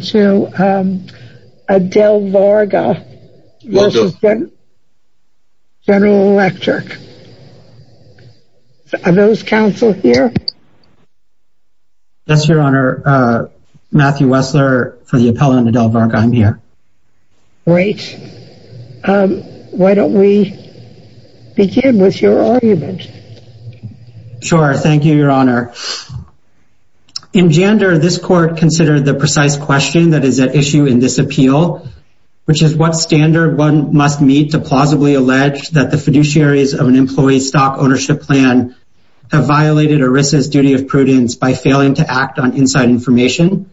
that is at issue in this appeal, which is what standard one must meet to plausibly allege that the fiduciaries of an employee's stock ownership plan have violated ERISA's duty of prudence by failing to act on inside information.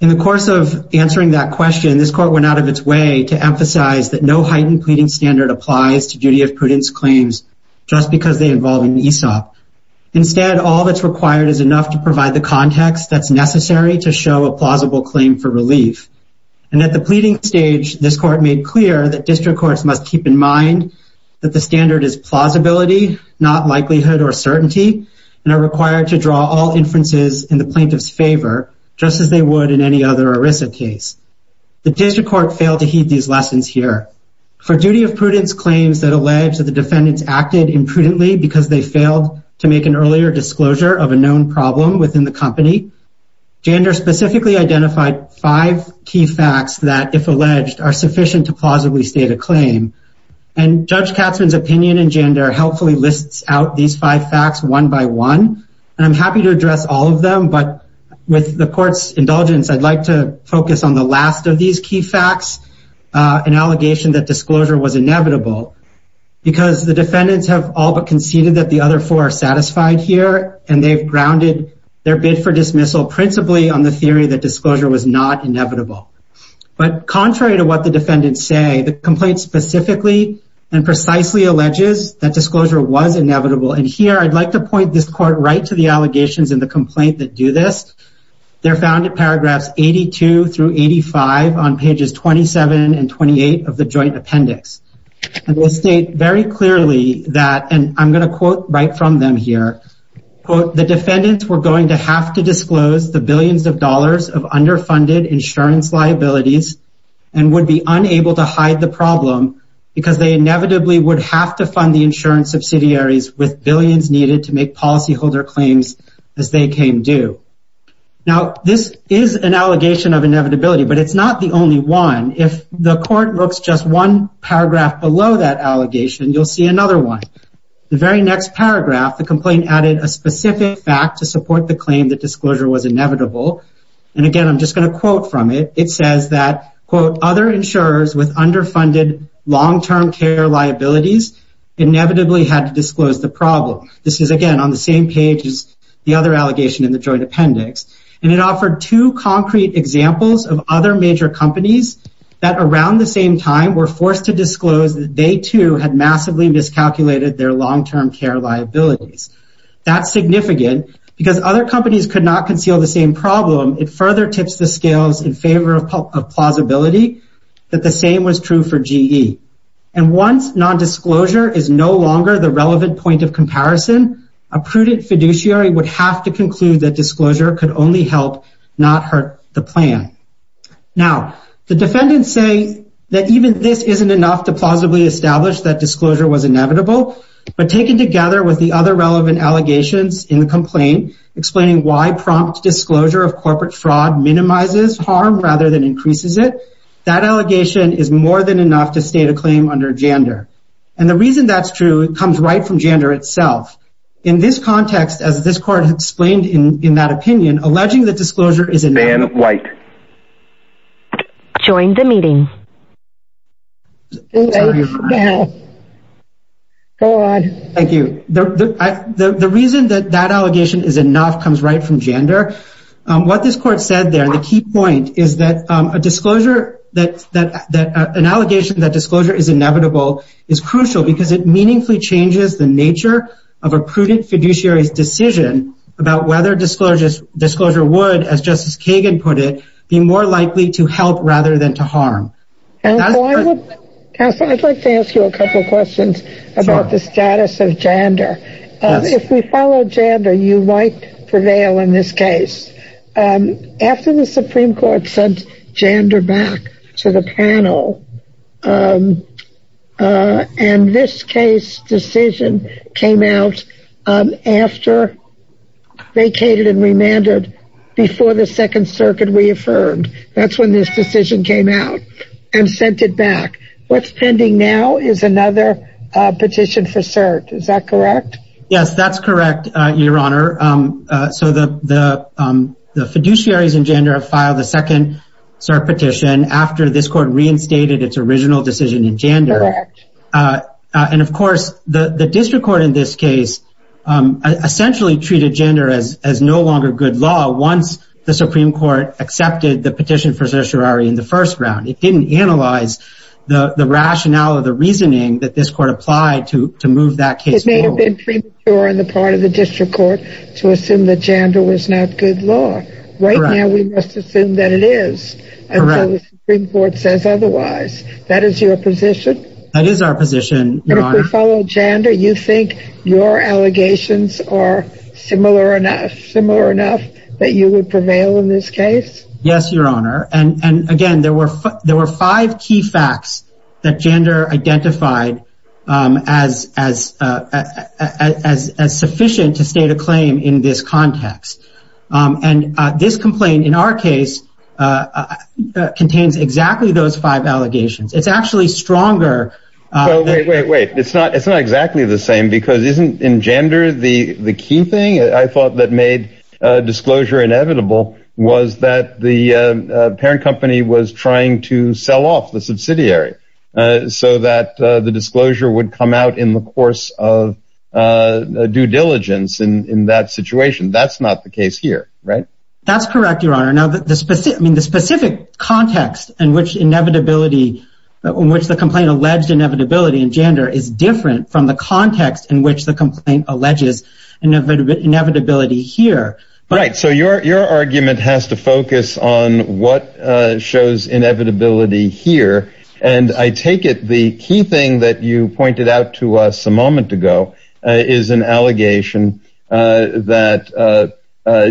In the course of answering that question, this court went out of its way to emphasize that no heightened pleading standard applies to duty of prudence claims just because they involve an ESOP. Instead, all that's required is enough to provide the context that's necessary to show a plausible claim for relief. And at the pleading stage, this court made clear that district courts must keep in mind that the standard is plausibility, not likelihood or certainty, and are required to draw all inferences in the plaintiff's favor, just as they would in any other ERISA case. The district court failed to heed these lessons here. For duty of prudence claims that allege that the defendants acted imprudently because they specifically identified five key facts that, if alleged, are sufficient to plausibly state a claim. And Judge Katzmann's opinion and gender helpfully lists out these five facts one by one, and I'm happy to address all of them, but with the court's indulgence, I'd like to focus on the last of these key facts, an allegation that disclosure was inevitable, because the defendants have all but conceded that the other four are satisfied here, and they've for dismissal principally on the theory that disclosure was not inevitable. But contrary to what the defendants say, the complaint specifically and precisely alleges that disclosure was inevitable, and here I'd like to point this court right to the allegations in the complaint that do this. They're found in paragraphs 82 through 85 on pages 27 and 28 of the joint appendix. And they state very clearly that, and I'm going to quote right from them here, quote, the defendants were going to have to disclose the billions of dollars of underfunded insurance liabilities and would be unable to hide the problem because they inevitably would have to fund the insurance subsidiaries with billions needed to make policyholder claims as they came due. Now this is an allegation of inevitability, but it's not the only one. If the court looks just one paragraph below that allegation, you'll see another one. The very next paragraph, the complaint added a specific fact to support the claim that disclosure was inevitable, and again, I'm just going to quote from it. It says that, quote, other insurers with underfunded long-term care liabilities inevitably had to disclose the problem. This is, again, on the same page as the other allegation in the joint appendix, and it offered two concrete examples of other major companies that around the same time were forced to disclose that they too had massively miscalculated their long-term care liabilities. That's significant because other companies could not conceal the same problem. It further tips the scales in favor of plausibility that the same was true for GE. And once nondisclosure is no longer the relevant point of comparison, a prudent fiduciary would have to conclude that disclosure could only help not hurt the plan. Now, the defendants say that even this isn't enough to plausibly establish that disclosure was inevitable, but taken together with the other relevant allegations in the complaint explaining why prompt disclosure of corporate fraud minimizes harm rather than increases it, that allegation is more than enough to state a claim under JANDR. And the reason that's true comes right from JANDR itself. In this context, as this court explained in that opinion, alleging that disclosure is inevitable is crucial because it meaningfully changes the nature of a prudent fiduciary's about whether disclosure would, as Justice Kagan put it, be more likely to help rather than to harm. Counselor, I'd like to ask you a couple of questions about the status of JANDR. If we follow JANDR, you might prevail in this case. After the Supreme Court sent JANDR back to the panel, and this case decision came out after vacated and remandered, before the Second Circuit reaffirmed, that's when this decision came out and sent it back. What's pending now is another petition for cert. Is that correct? Yes, that's correct, Your Honor. So the fiduciaries in JANDR have filed a second cert petition after this court reinstated its original decision in JANDR. And of course, the district court in this case essentially treated JANDR as no longer good law once the Supreme Court accepted the petition for certiorari in the first round. It didn't analyze the rationale or the reasoning that this court applied to move that case forward. It may have been premature on the part of the district court to assume that JANDR was not good law. Right now, we must assume that it is until the Supreme Court says otherwise. That is your position? That is our position, Your Honor. And if we follow JANDR, you think your allegations are similar enough that you would prevail in this case? Yes, Your Honor. And again, there were five key facts that JANDR identified as sufficient to state a claim in this context. And this complaint in our case contains exactly those five allegations. It's actually stronger. Wait, wait, wait. It's not it's not exactly the same because isn't in JANDR the the key thing I thought that made disclosure inevitable was that the parent company was trying to sell off the subsidiary so that the disclosure would come out in the course of due diligence in that situation. That's not the case here. Right. That's correct, Your Honor. Now, the specific I mean, the specific context in which inevitability in which the complaint alleged inevitability in JANDR is different from the context in which the complaint alleges inevitability here. Right. So your argument has to focus on what shows inevitability here. And I take it the key thing that you pointed out to us a moment ago is an allegation that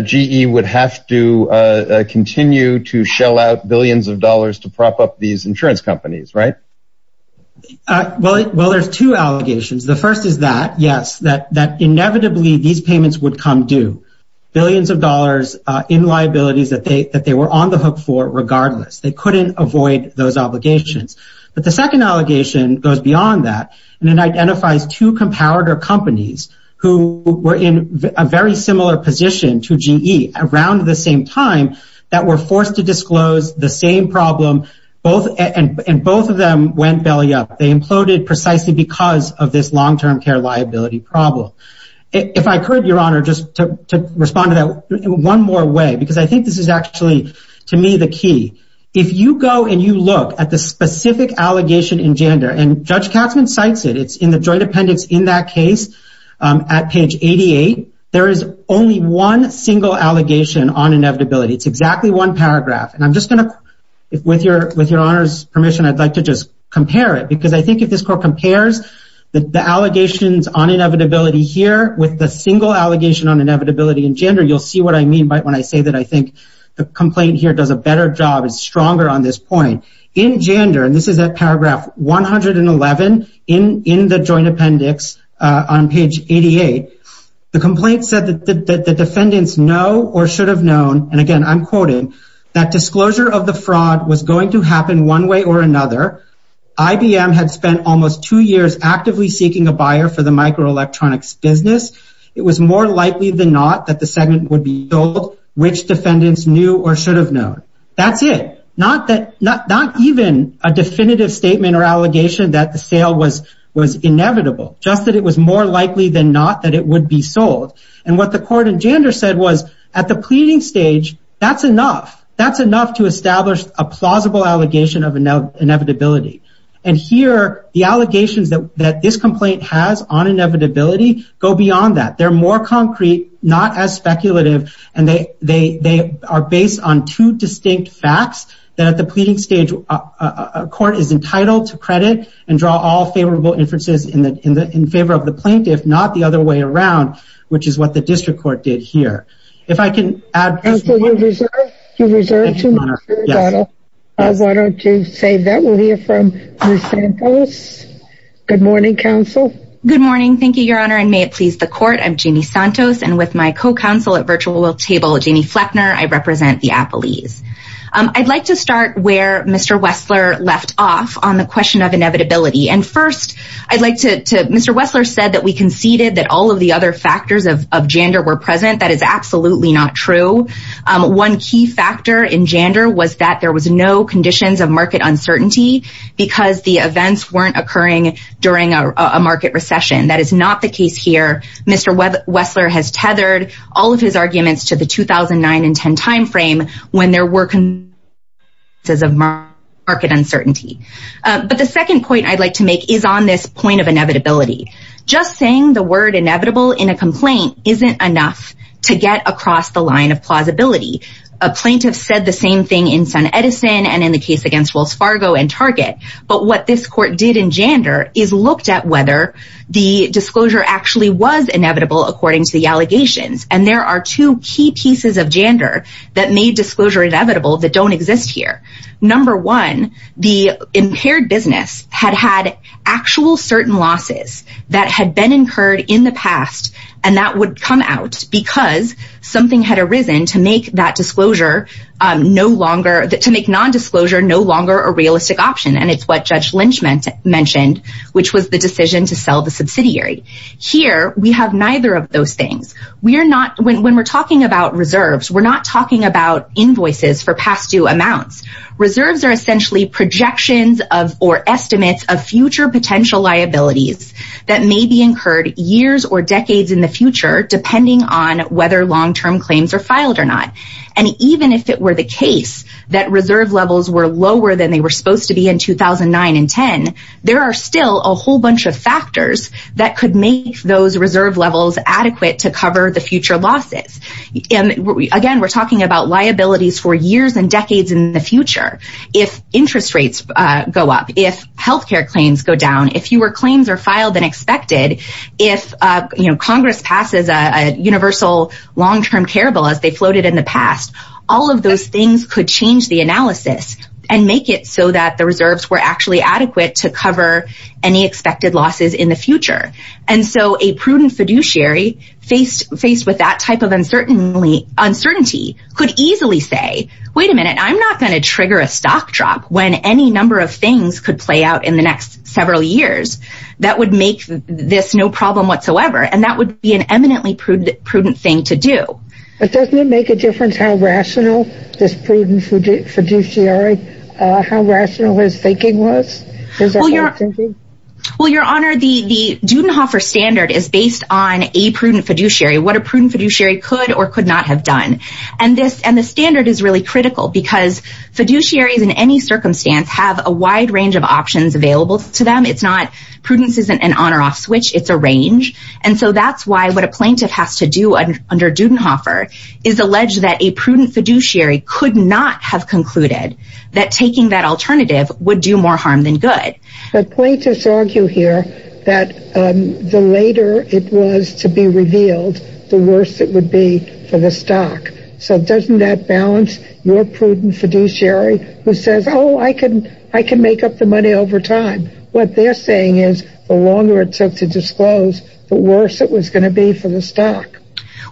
GE would have to continue to shell out billions of dollars to prop up these insurance companies. Right. Well, well, there's two allegations. The first is that, yes, that that inevitably these payments would come due billions of dollars in liabilities that they that they were on the hook for regardless. They couldn't avoid those obligations. But the second allegation goes beyond that. And it identifies two competitor companies who were in a very similar position to GE around the same time that were forced to disclose the same problem. Both and both of them went belly up. They imploded precisely because of this long term care liability problem. If I could, Your Honor, just to respond to that one more way, because I think this is actually, to me, the key. If you go and you look at the specific allegation in gender and Judge Katzman cites it, it's in the joint appendix in that case at page 88, there is only one single allegation on inevitability. It's exactly one paragraph. And I'm just going to, with your with your honor's permission, I'd like to just compare it, because I think if this court compares the allegations on inevitability here with the single allegation on inevitability in gender, you'll see what I mean by when I say that. I think the complaint here does a better job, is stronger on this point in gender. And this is a paragraph 111 in in the joint appendix on page 88. The complaint said that the defendants know or should have known. And again, I'm quoting that disclosure of the fraud was going to happen one way or another. IBM had spent almost two years actively seeking a buyer for the microelectronics business. It was more likely than not that the segment would be told which defendants knew or should have known. That's it. Not that not not even a definitive statement or allegation that the sale was was inevitable, just that it was more likely than not that it would be sold. And what the court in gender said was at the pleading stage, that's enough. That's enough to establish a plausible allegation of inevitability. And here, the allegations that that this complaint has on inevitability go beyond that. They're more concrete, not as speculative. And they they they are based on two distinct facts that at the pleading stage, a court is entitled to credit and draw all favorable inferences in the in the in favor of the plaintiff, not the other way around, which is what the district court did here. If I can add to your research, I wanted to say that we'll hear from the samples. Good morning, counsel. Good morning. Thank you, Your Honor. And may it please the court. I'm Jeannie Santos. And with my co-counsel at virtual table, Jeannie Fleckner, I represent the Appleys. I'd like to start where Mr. Wessler left off on the question of inevitability. And first, I'd like to Mr. Wessler said that we conceded that all of the other factors of gender were present. That is absolutely not true. One key factor in gender was that there was no conditions of market uncertainty because the events weren't occurring during a market recession. That is not the case here. Mr. Wessler has tethered all of his arguments to the 2009 and 10 time frame when there were some market uncertainty. But the second point I'd like to make is on this point of inevitability. Just saying the word inevitable in a complaint isn't enough to get across the line of plausibility. A plaintiff said the same thing in SunEdison and in the case against Wells Fargo and Target. But what this court did in gender is looked at whether the disclosure actually was inevitable, according to the allegations. And there are two key pieces of gender that made disclosure inevitable that don't exist here. Number one, the impaired business had had actual certain losses. That had been incurred in the past, and that would come out because something had arisen to make that disclosure no longer that to make nondisclosure no longer a realistic option. And it's what Judge Lynch mentioned, which was the decision to sell the subsidiary. Here we have neither of those things. We are not when we're talking about reserves, we're not talking about invoices for past due amounts. Reserves are essentially projections of or estimates of future potential liabilities that may be incurred years or decades in the future, depending on whether long term claims are filed or not. And even if it were the case that reserve levels were lower than they were supposed to be in 2009 and 10, there are still a whole bunch of factors that could make those reserve levels adequate to cover the future losses. And again, we're talking about liabilities for years and decades in the future. If interest rates go up, if health care claims go down, if you were claims are filed and expected, if Congress passes a universal long term caribou as they floated in the past, all of those things could change the analysis and make it so that the reserves were actually adequate to cover any expected losses in the future. And so a prudent fiduciary faced with that type of uncertainty could easily say, wait a minute, I'm not going to trigger a stock drop when any number of things could play out in the next several years. That would make this no problem whatsoever. And that would be an eminently prudent thing to do. But doesn't it make a difference how rational this prudent fiduciary, how rational his thinking was? Well, your honor, the the Dudenhofer standard is based on a prudent fiduciary, what a prudent fiduciary could or could not have done. And this and the standard is really critical because fiduciaries in any circumstance have a wide range of options available to them. It's not prudence isn't an on or off switch. It's a range. And so that's why what a plaintiff has to do under Dudenhofer is alleged that a prudent fiduciary could not have concluded that taking that alternative would do more harm than good. But plaintiffs argue here that the later it was to be revealed, the worse it would be for the stock. So doesn't that balance your prudent fiduciary who says, oh, I can I can make up the money over time? What they're saying is the longer it took to disclose, the worse it was going to be for the stock.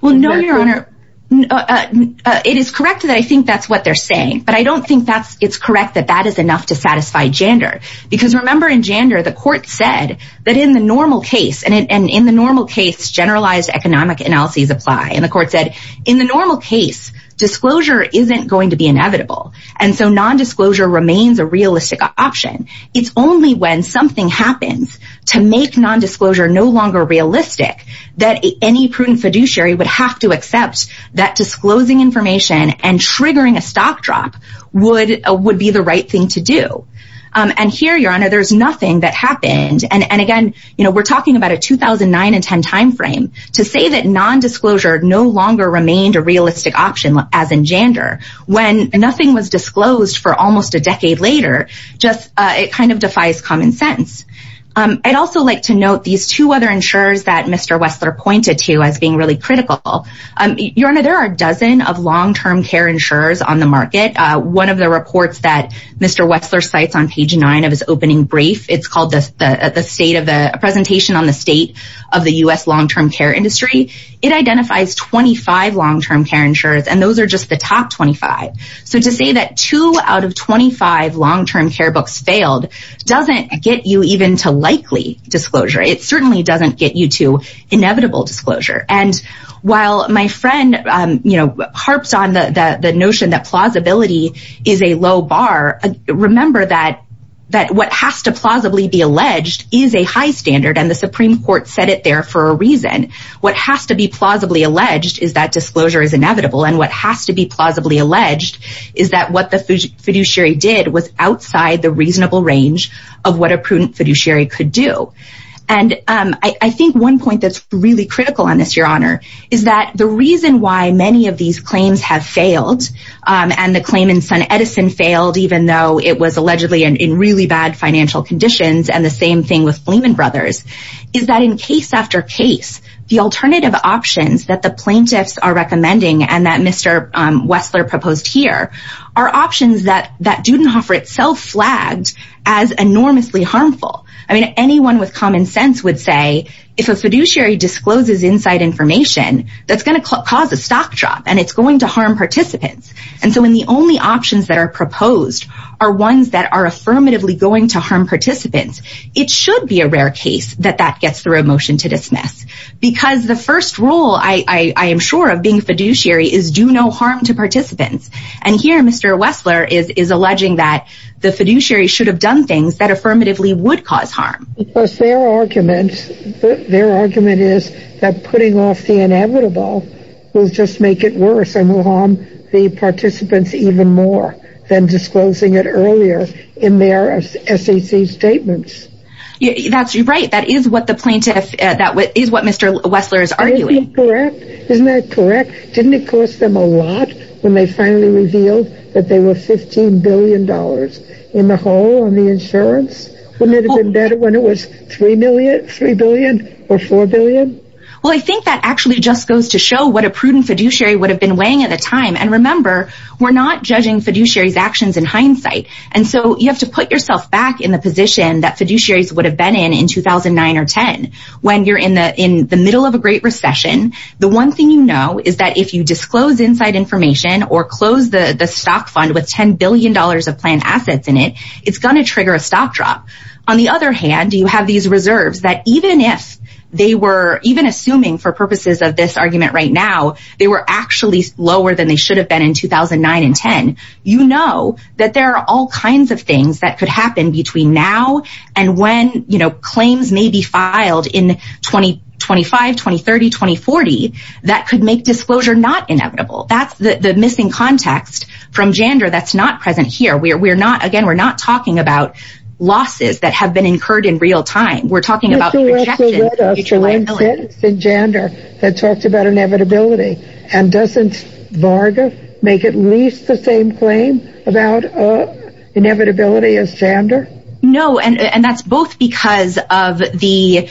Well, no, your honor, it is correct that I think that's what they're saying, but I don't think that's it's correct that that is enough to satisfy gender. Because remember, in gender, the court said that in the normal case and in the normal case, generalized economic analyses apply. And the court said in the normal case, disclosure isn't going to be inevitable. And so nondisclosure remains a realistic option. It's only when something happens to make nondisclosure no longer realistic that any prudent fiduciary would have to accept that disclosing information and triggering a stock drop would would be the right thing to do. And here, your honor, there's nothing that happened. And again, we're talking about a 2009 and 10 time frame to say that nondisclosure no longer remained a realistic option as in gender when nothing was disclosed for almost a decade later. Just it kind of defies common sense. I'd also like to note these two other insurers that Mr. Wessler pointed to as being really critical. Your honor, there are a dozen of long term care insurers on the market. One of the reports that Mr. Wessler cites on page nine of his opening brief, it's called the state of the presentation on the state of the U.S. long term care industry. It identifies twenty five long term care insurers and those are just the top twenty five. So to say that two out of twenty five long term care books failed doesn't get you even to likely disclosure. It certainly doesn't get you to inevitable disclosure. And while my friend harps on the notion that plausibility is a low bar, remember that that what has to plausibly be alleged is a high standard. And the Supreme Court said it there for a reason. What has to be plausibly alleged is that disclosure is inevitable. And what has to be plausibly alleged is that what the fiduciary did was outside the reasonable range of what a prudent fiduciary could do. And I think one point that's really critical on this, your honor, is that the reason why many of these claims have failed and the claim in SunEdison failed, even though it was allegedly in really bad financial conditions and the same thing with Fleeman Brothers, is that in case after case, the alternative options that the plaintiffs are recommending and that Mr. Wessler proposed here are options that that Dudenhofer itself flagged as enormously harmful. I mean, anyone with common sense would say if a fiduciary discloses inside information, that's going to cause a stock drop and it's going to harm participants. And so when the only options that are proposed are ones that are affirmatively going to harm participants, it should be a rare case that that gets through a motion to dismiss because the first rule I am sure of being fiduciary is do no harm to participants. And here, Mr. Wessler is alleging that the fiduciary should have done things that affirmatively would cause harm. Because their argument, their argument is that putting off the inevitable will just make it worse and will harm the participants even more than disclosing it earlier in their SEC statements. That's right. That is what the plaintiff, that is what Mr. Wessler is arguing. Correct. Isn't that correct? Didn't it cost them a lot when they finally revealed that they were fifteen billion dollars in the hole on the insurance? Wouldn't it have been better when it was three million, three billion or four billion? Well, I think that actually just goes to show what a prudent fiduciary would have been weighing at the time. And remember, we're not judging fiduciaries actions in hindsight. And so you have to put yourself back in the position that fiduciaries would have been in in 2009 or 10 when you're in the in the middle of a great recession. The one thing you know is that if you disclose inside information or close the stock fund with ten billion dollars of planned assets in it, it's going to trigger a stock drop. On the other hand, you have these reserves that even if they were even assuming for purposes of this argument right now, they were actually lower than they should have been in 2009 and 10. You know that there are all kinds of things that could happen between now and when, you know, 2030, 2040, that could make disclosure not inevitable. That's the missing context from gender that's not present here. We're we're not again, we're not talking about losses that have been incurred in real time. We're talking about the gender that talked about inevitability. And doesn't Varga make at least the same claim about inevitability as gender? No. And that's both because of the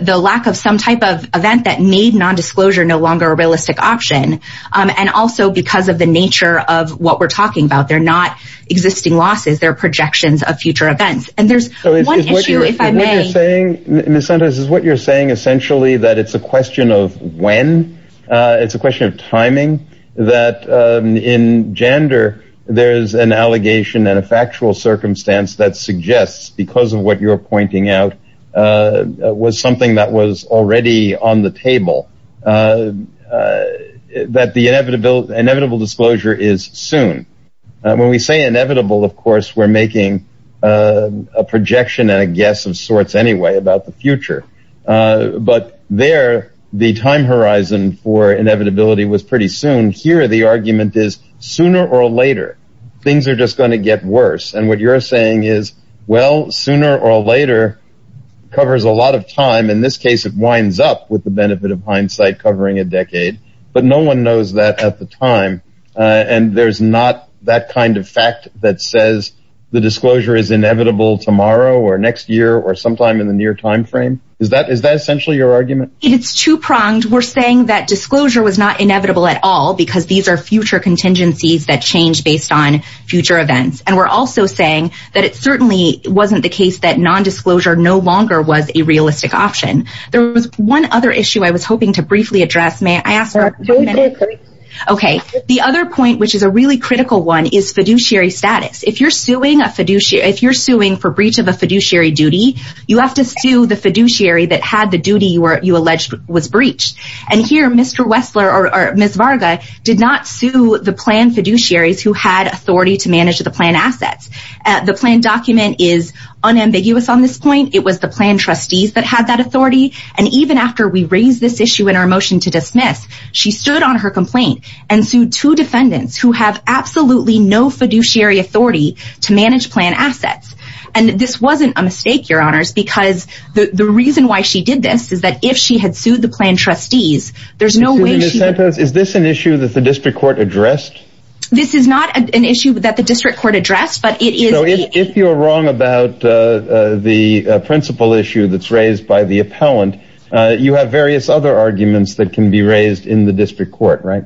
the lack of some type of event that made nondisclosure no longer a realistic option. And also because of the nature of what we're talking about. They're not existing losses. They're projections of future events. And there's one issue, if I may say in the sentence is what you're saying, essentially, that it's a question of when it's a question of timing, that in gender there's an inevitability that suggests because of what you're pointing out was something that was already on the table that the inevitable, inevitable disclosure is soon. When we say inevitable, of course, we're making a projection and a guess of sorts anyway about the future. But there the time horizon for inevitability was pretty soon here. The argument is sooner or later, things are just going to get worse. And what you're saying is, well, sooner or later covers a lot of time. In this case, it winds up with the benefit of hindsight covering a decade. But no one knows that at the time. And there's not that kind of fact that says the disclosure is inevitable tomorrow or next year or sometime in the near time frame. Is that is that essentially your argument? It's two pronged. We're saying that disclosure was not inevitable at all because these are future contingencies that change based on future events. And we're also saying that it certainly wasn't the case that nondisclosure no longer was a realistic option. There was one other issue I was hoping to briefly address. May I ask? OK, the other point, which is a really critical one, is fiduciary status. If you're suing a fiduciary, if you're suing for breach of a fiduciary duty, you have to sue the fiduciary that had the duty where you alleged was breached. And here, Mr. The plan document is unambiguous on this point. It was the plan trustees that had that authority. And even after we raised this issue in our motion to dismiss, she stood on her complaint and sued two defendants who have absolutely no fiduciary authority to manage plan assets. And this wasn't a mistake, your honors, because the reason why she did this is that if she had sued the plan trustees, there's no way she is. Is this an issue that the district court addressed? This is not an issue that the district court addressed, but it is. So if you're wrong about the principal issue that's raised by the appellant, you have various other arguments that can be raised in the district court. Right.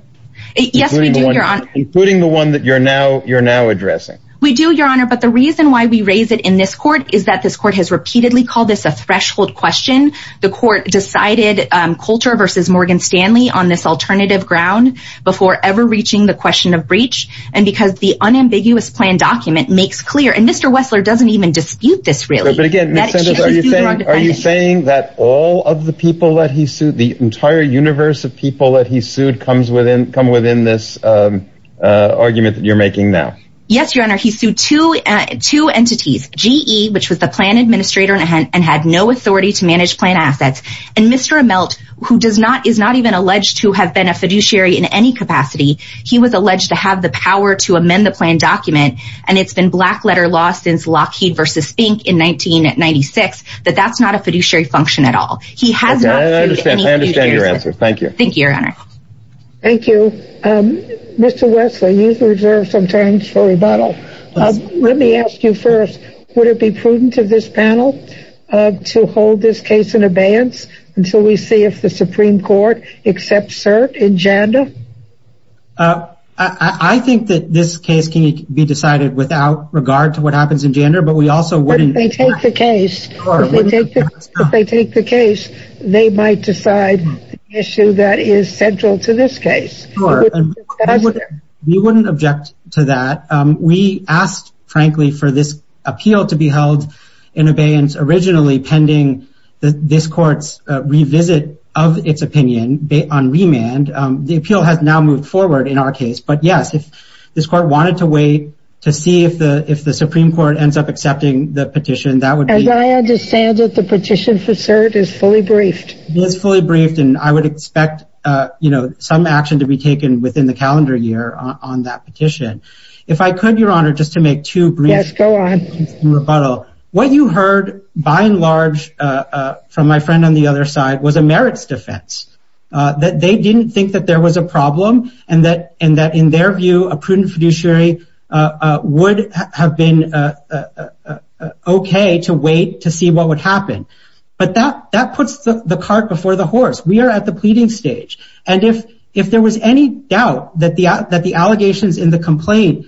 Yes, including the one that you're now you're now addressing. We do, your honor. But the reason why we raise it in this court is that this court has repeatedly called this a threshold question. The court decided Coulter versus Morgan Stanley on this alternative ground before ever reaching the question of breach. And because the unambiguous plan document makes clear and Mr. Wessler doesn't even dispute this really. But again, are you saying that all of the people that he sued, the entire universe of people that he sued comes within come within this argument that you're making now? Yes, your honor. He sued to two entities, GE, which was the plan administrator and had no authority to manage plan assets. And Mr. Amelt, who does not is not even alleged to have been a fiduciary in any capacity. He was alleged to have the power to amend the plan document. And it's been black letter law since Lockheed versus Fink in 1996, that that's not a fiduciary function at all. He has. I understand your answer. Thank you. Thank you, your honor. Thank you, Mr. Wessler. You've reserved some time for rebuttal. Let me ask you first, would it be prudent of this panel to hold this case in abeyance? And so we see if the Supreme Court accepts cert in Janda. I think that this case can be decided without regard to what happens in Janda, but we also wouldn't take the case or if they take the case, they might decide the issue that is central to this case. We wouldn't object to that. We asked, frankly, for this appeal to be held in abeyance originally pending this court's revisit of its opinion on remand. The appeal has now moved forward in our case. But yes, if this court wanted to wait to see if the if the Supreme Court ends up accepting the petition, that would be. I understand that the petition for cert is fully briefed. It is fully briefed. And I would expect some action to be taken within the calendar year on that petition. If I could, your honor, just to make two brief rebuttal. What you heard by and large from my friend on the other side was a merits defense that they didn't think that there was a problem and that and that in their view, a prudent fiduciary would have been OK to wait to see what would happen. But that that puts the cart before the horse. We are at the pleading stage. And if if there was any doubt that the that the allegations in the complaint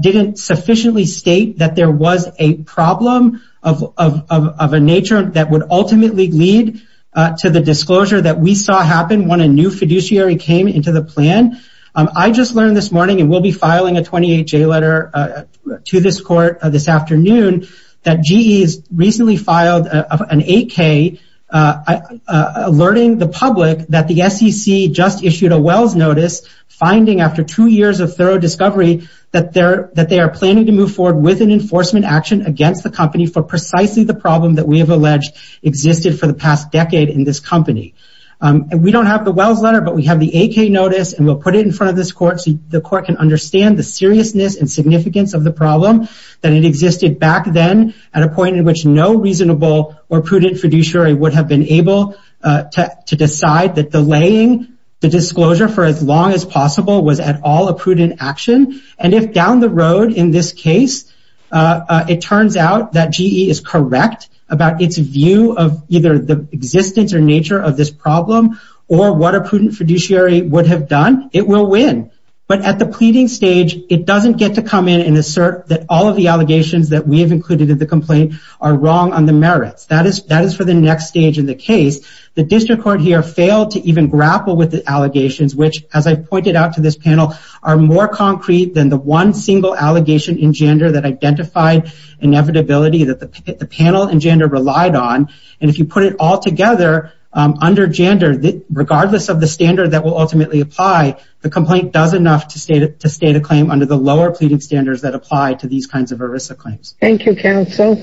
didn't sufficiently state that there was a problem of of of a nature that would ultimately lead to the disclosure that we saw happen when a new fiduciary came into the plan. I just learned this morning and will be filing a 28 day letter to this court this afternoon that GE's recently filed an 8K alerting the public that the SEC just issued a Wells notice finding after two years of thorough discovery that they're that they are planning to move forward with an enforcement action against the company for precisely the problem that we have alleged existed for the past decade in this company. And we don't have the Wells letter, but we have the 8K notice and we'll put it in front of this court so the court can understand the seriousness and significance of the problem that it existed back then at a point in which no reasonable or prudent fiduciary would have been able to decide that delaying the disclosure for as long as possible was at all a prudent action. And if down the road in this case, it turns out that GE is correct about its view of either the existence or nature of this problem or what a prudent fiduciary would have done, it will win. But at the pleading stage, it doesn't get to come in and assert that all of the allegations that we have included in the complaint are wrong on the merits. That is that is for the next stage in the case. The district court here failed to even grapple with the allegations, which, as I pointed out to this panel, are more concrete than the one single allegation in gender that identified inevitability that the panel and gender relied on. And if you put it all together under gender, regardless of the standard that will ultimately apply, the complaint does enough to state a claim under the lower pleading standards that apply to these kinds of ERISA claims. Thank you, counsel.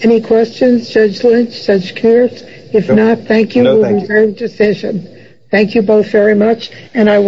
Any questions, Judge Lynch, Judge Kearse? If not, thank you for your decision. Thank you both very much. And I will.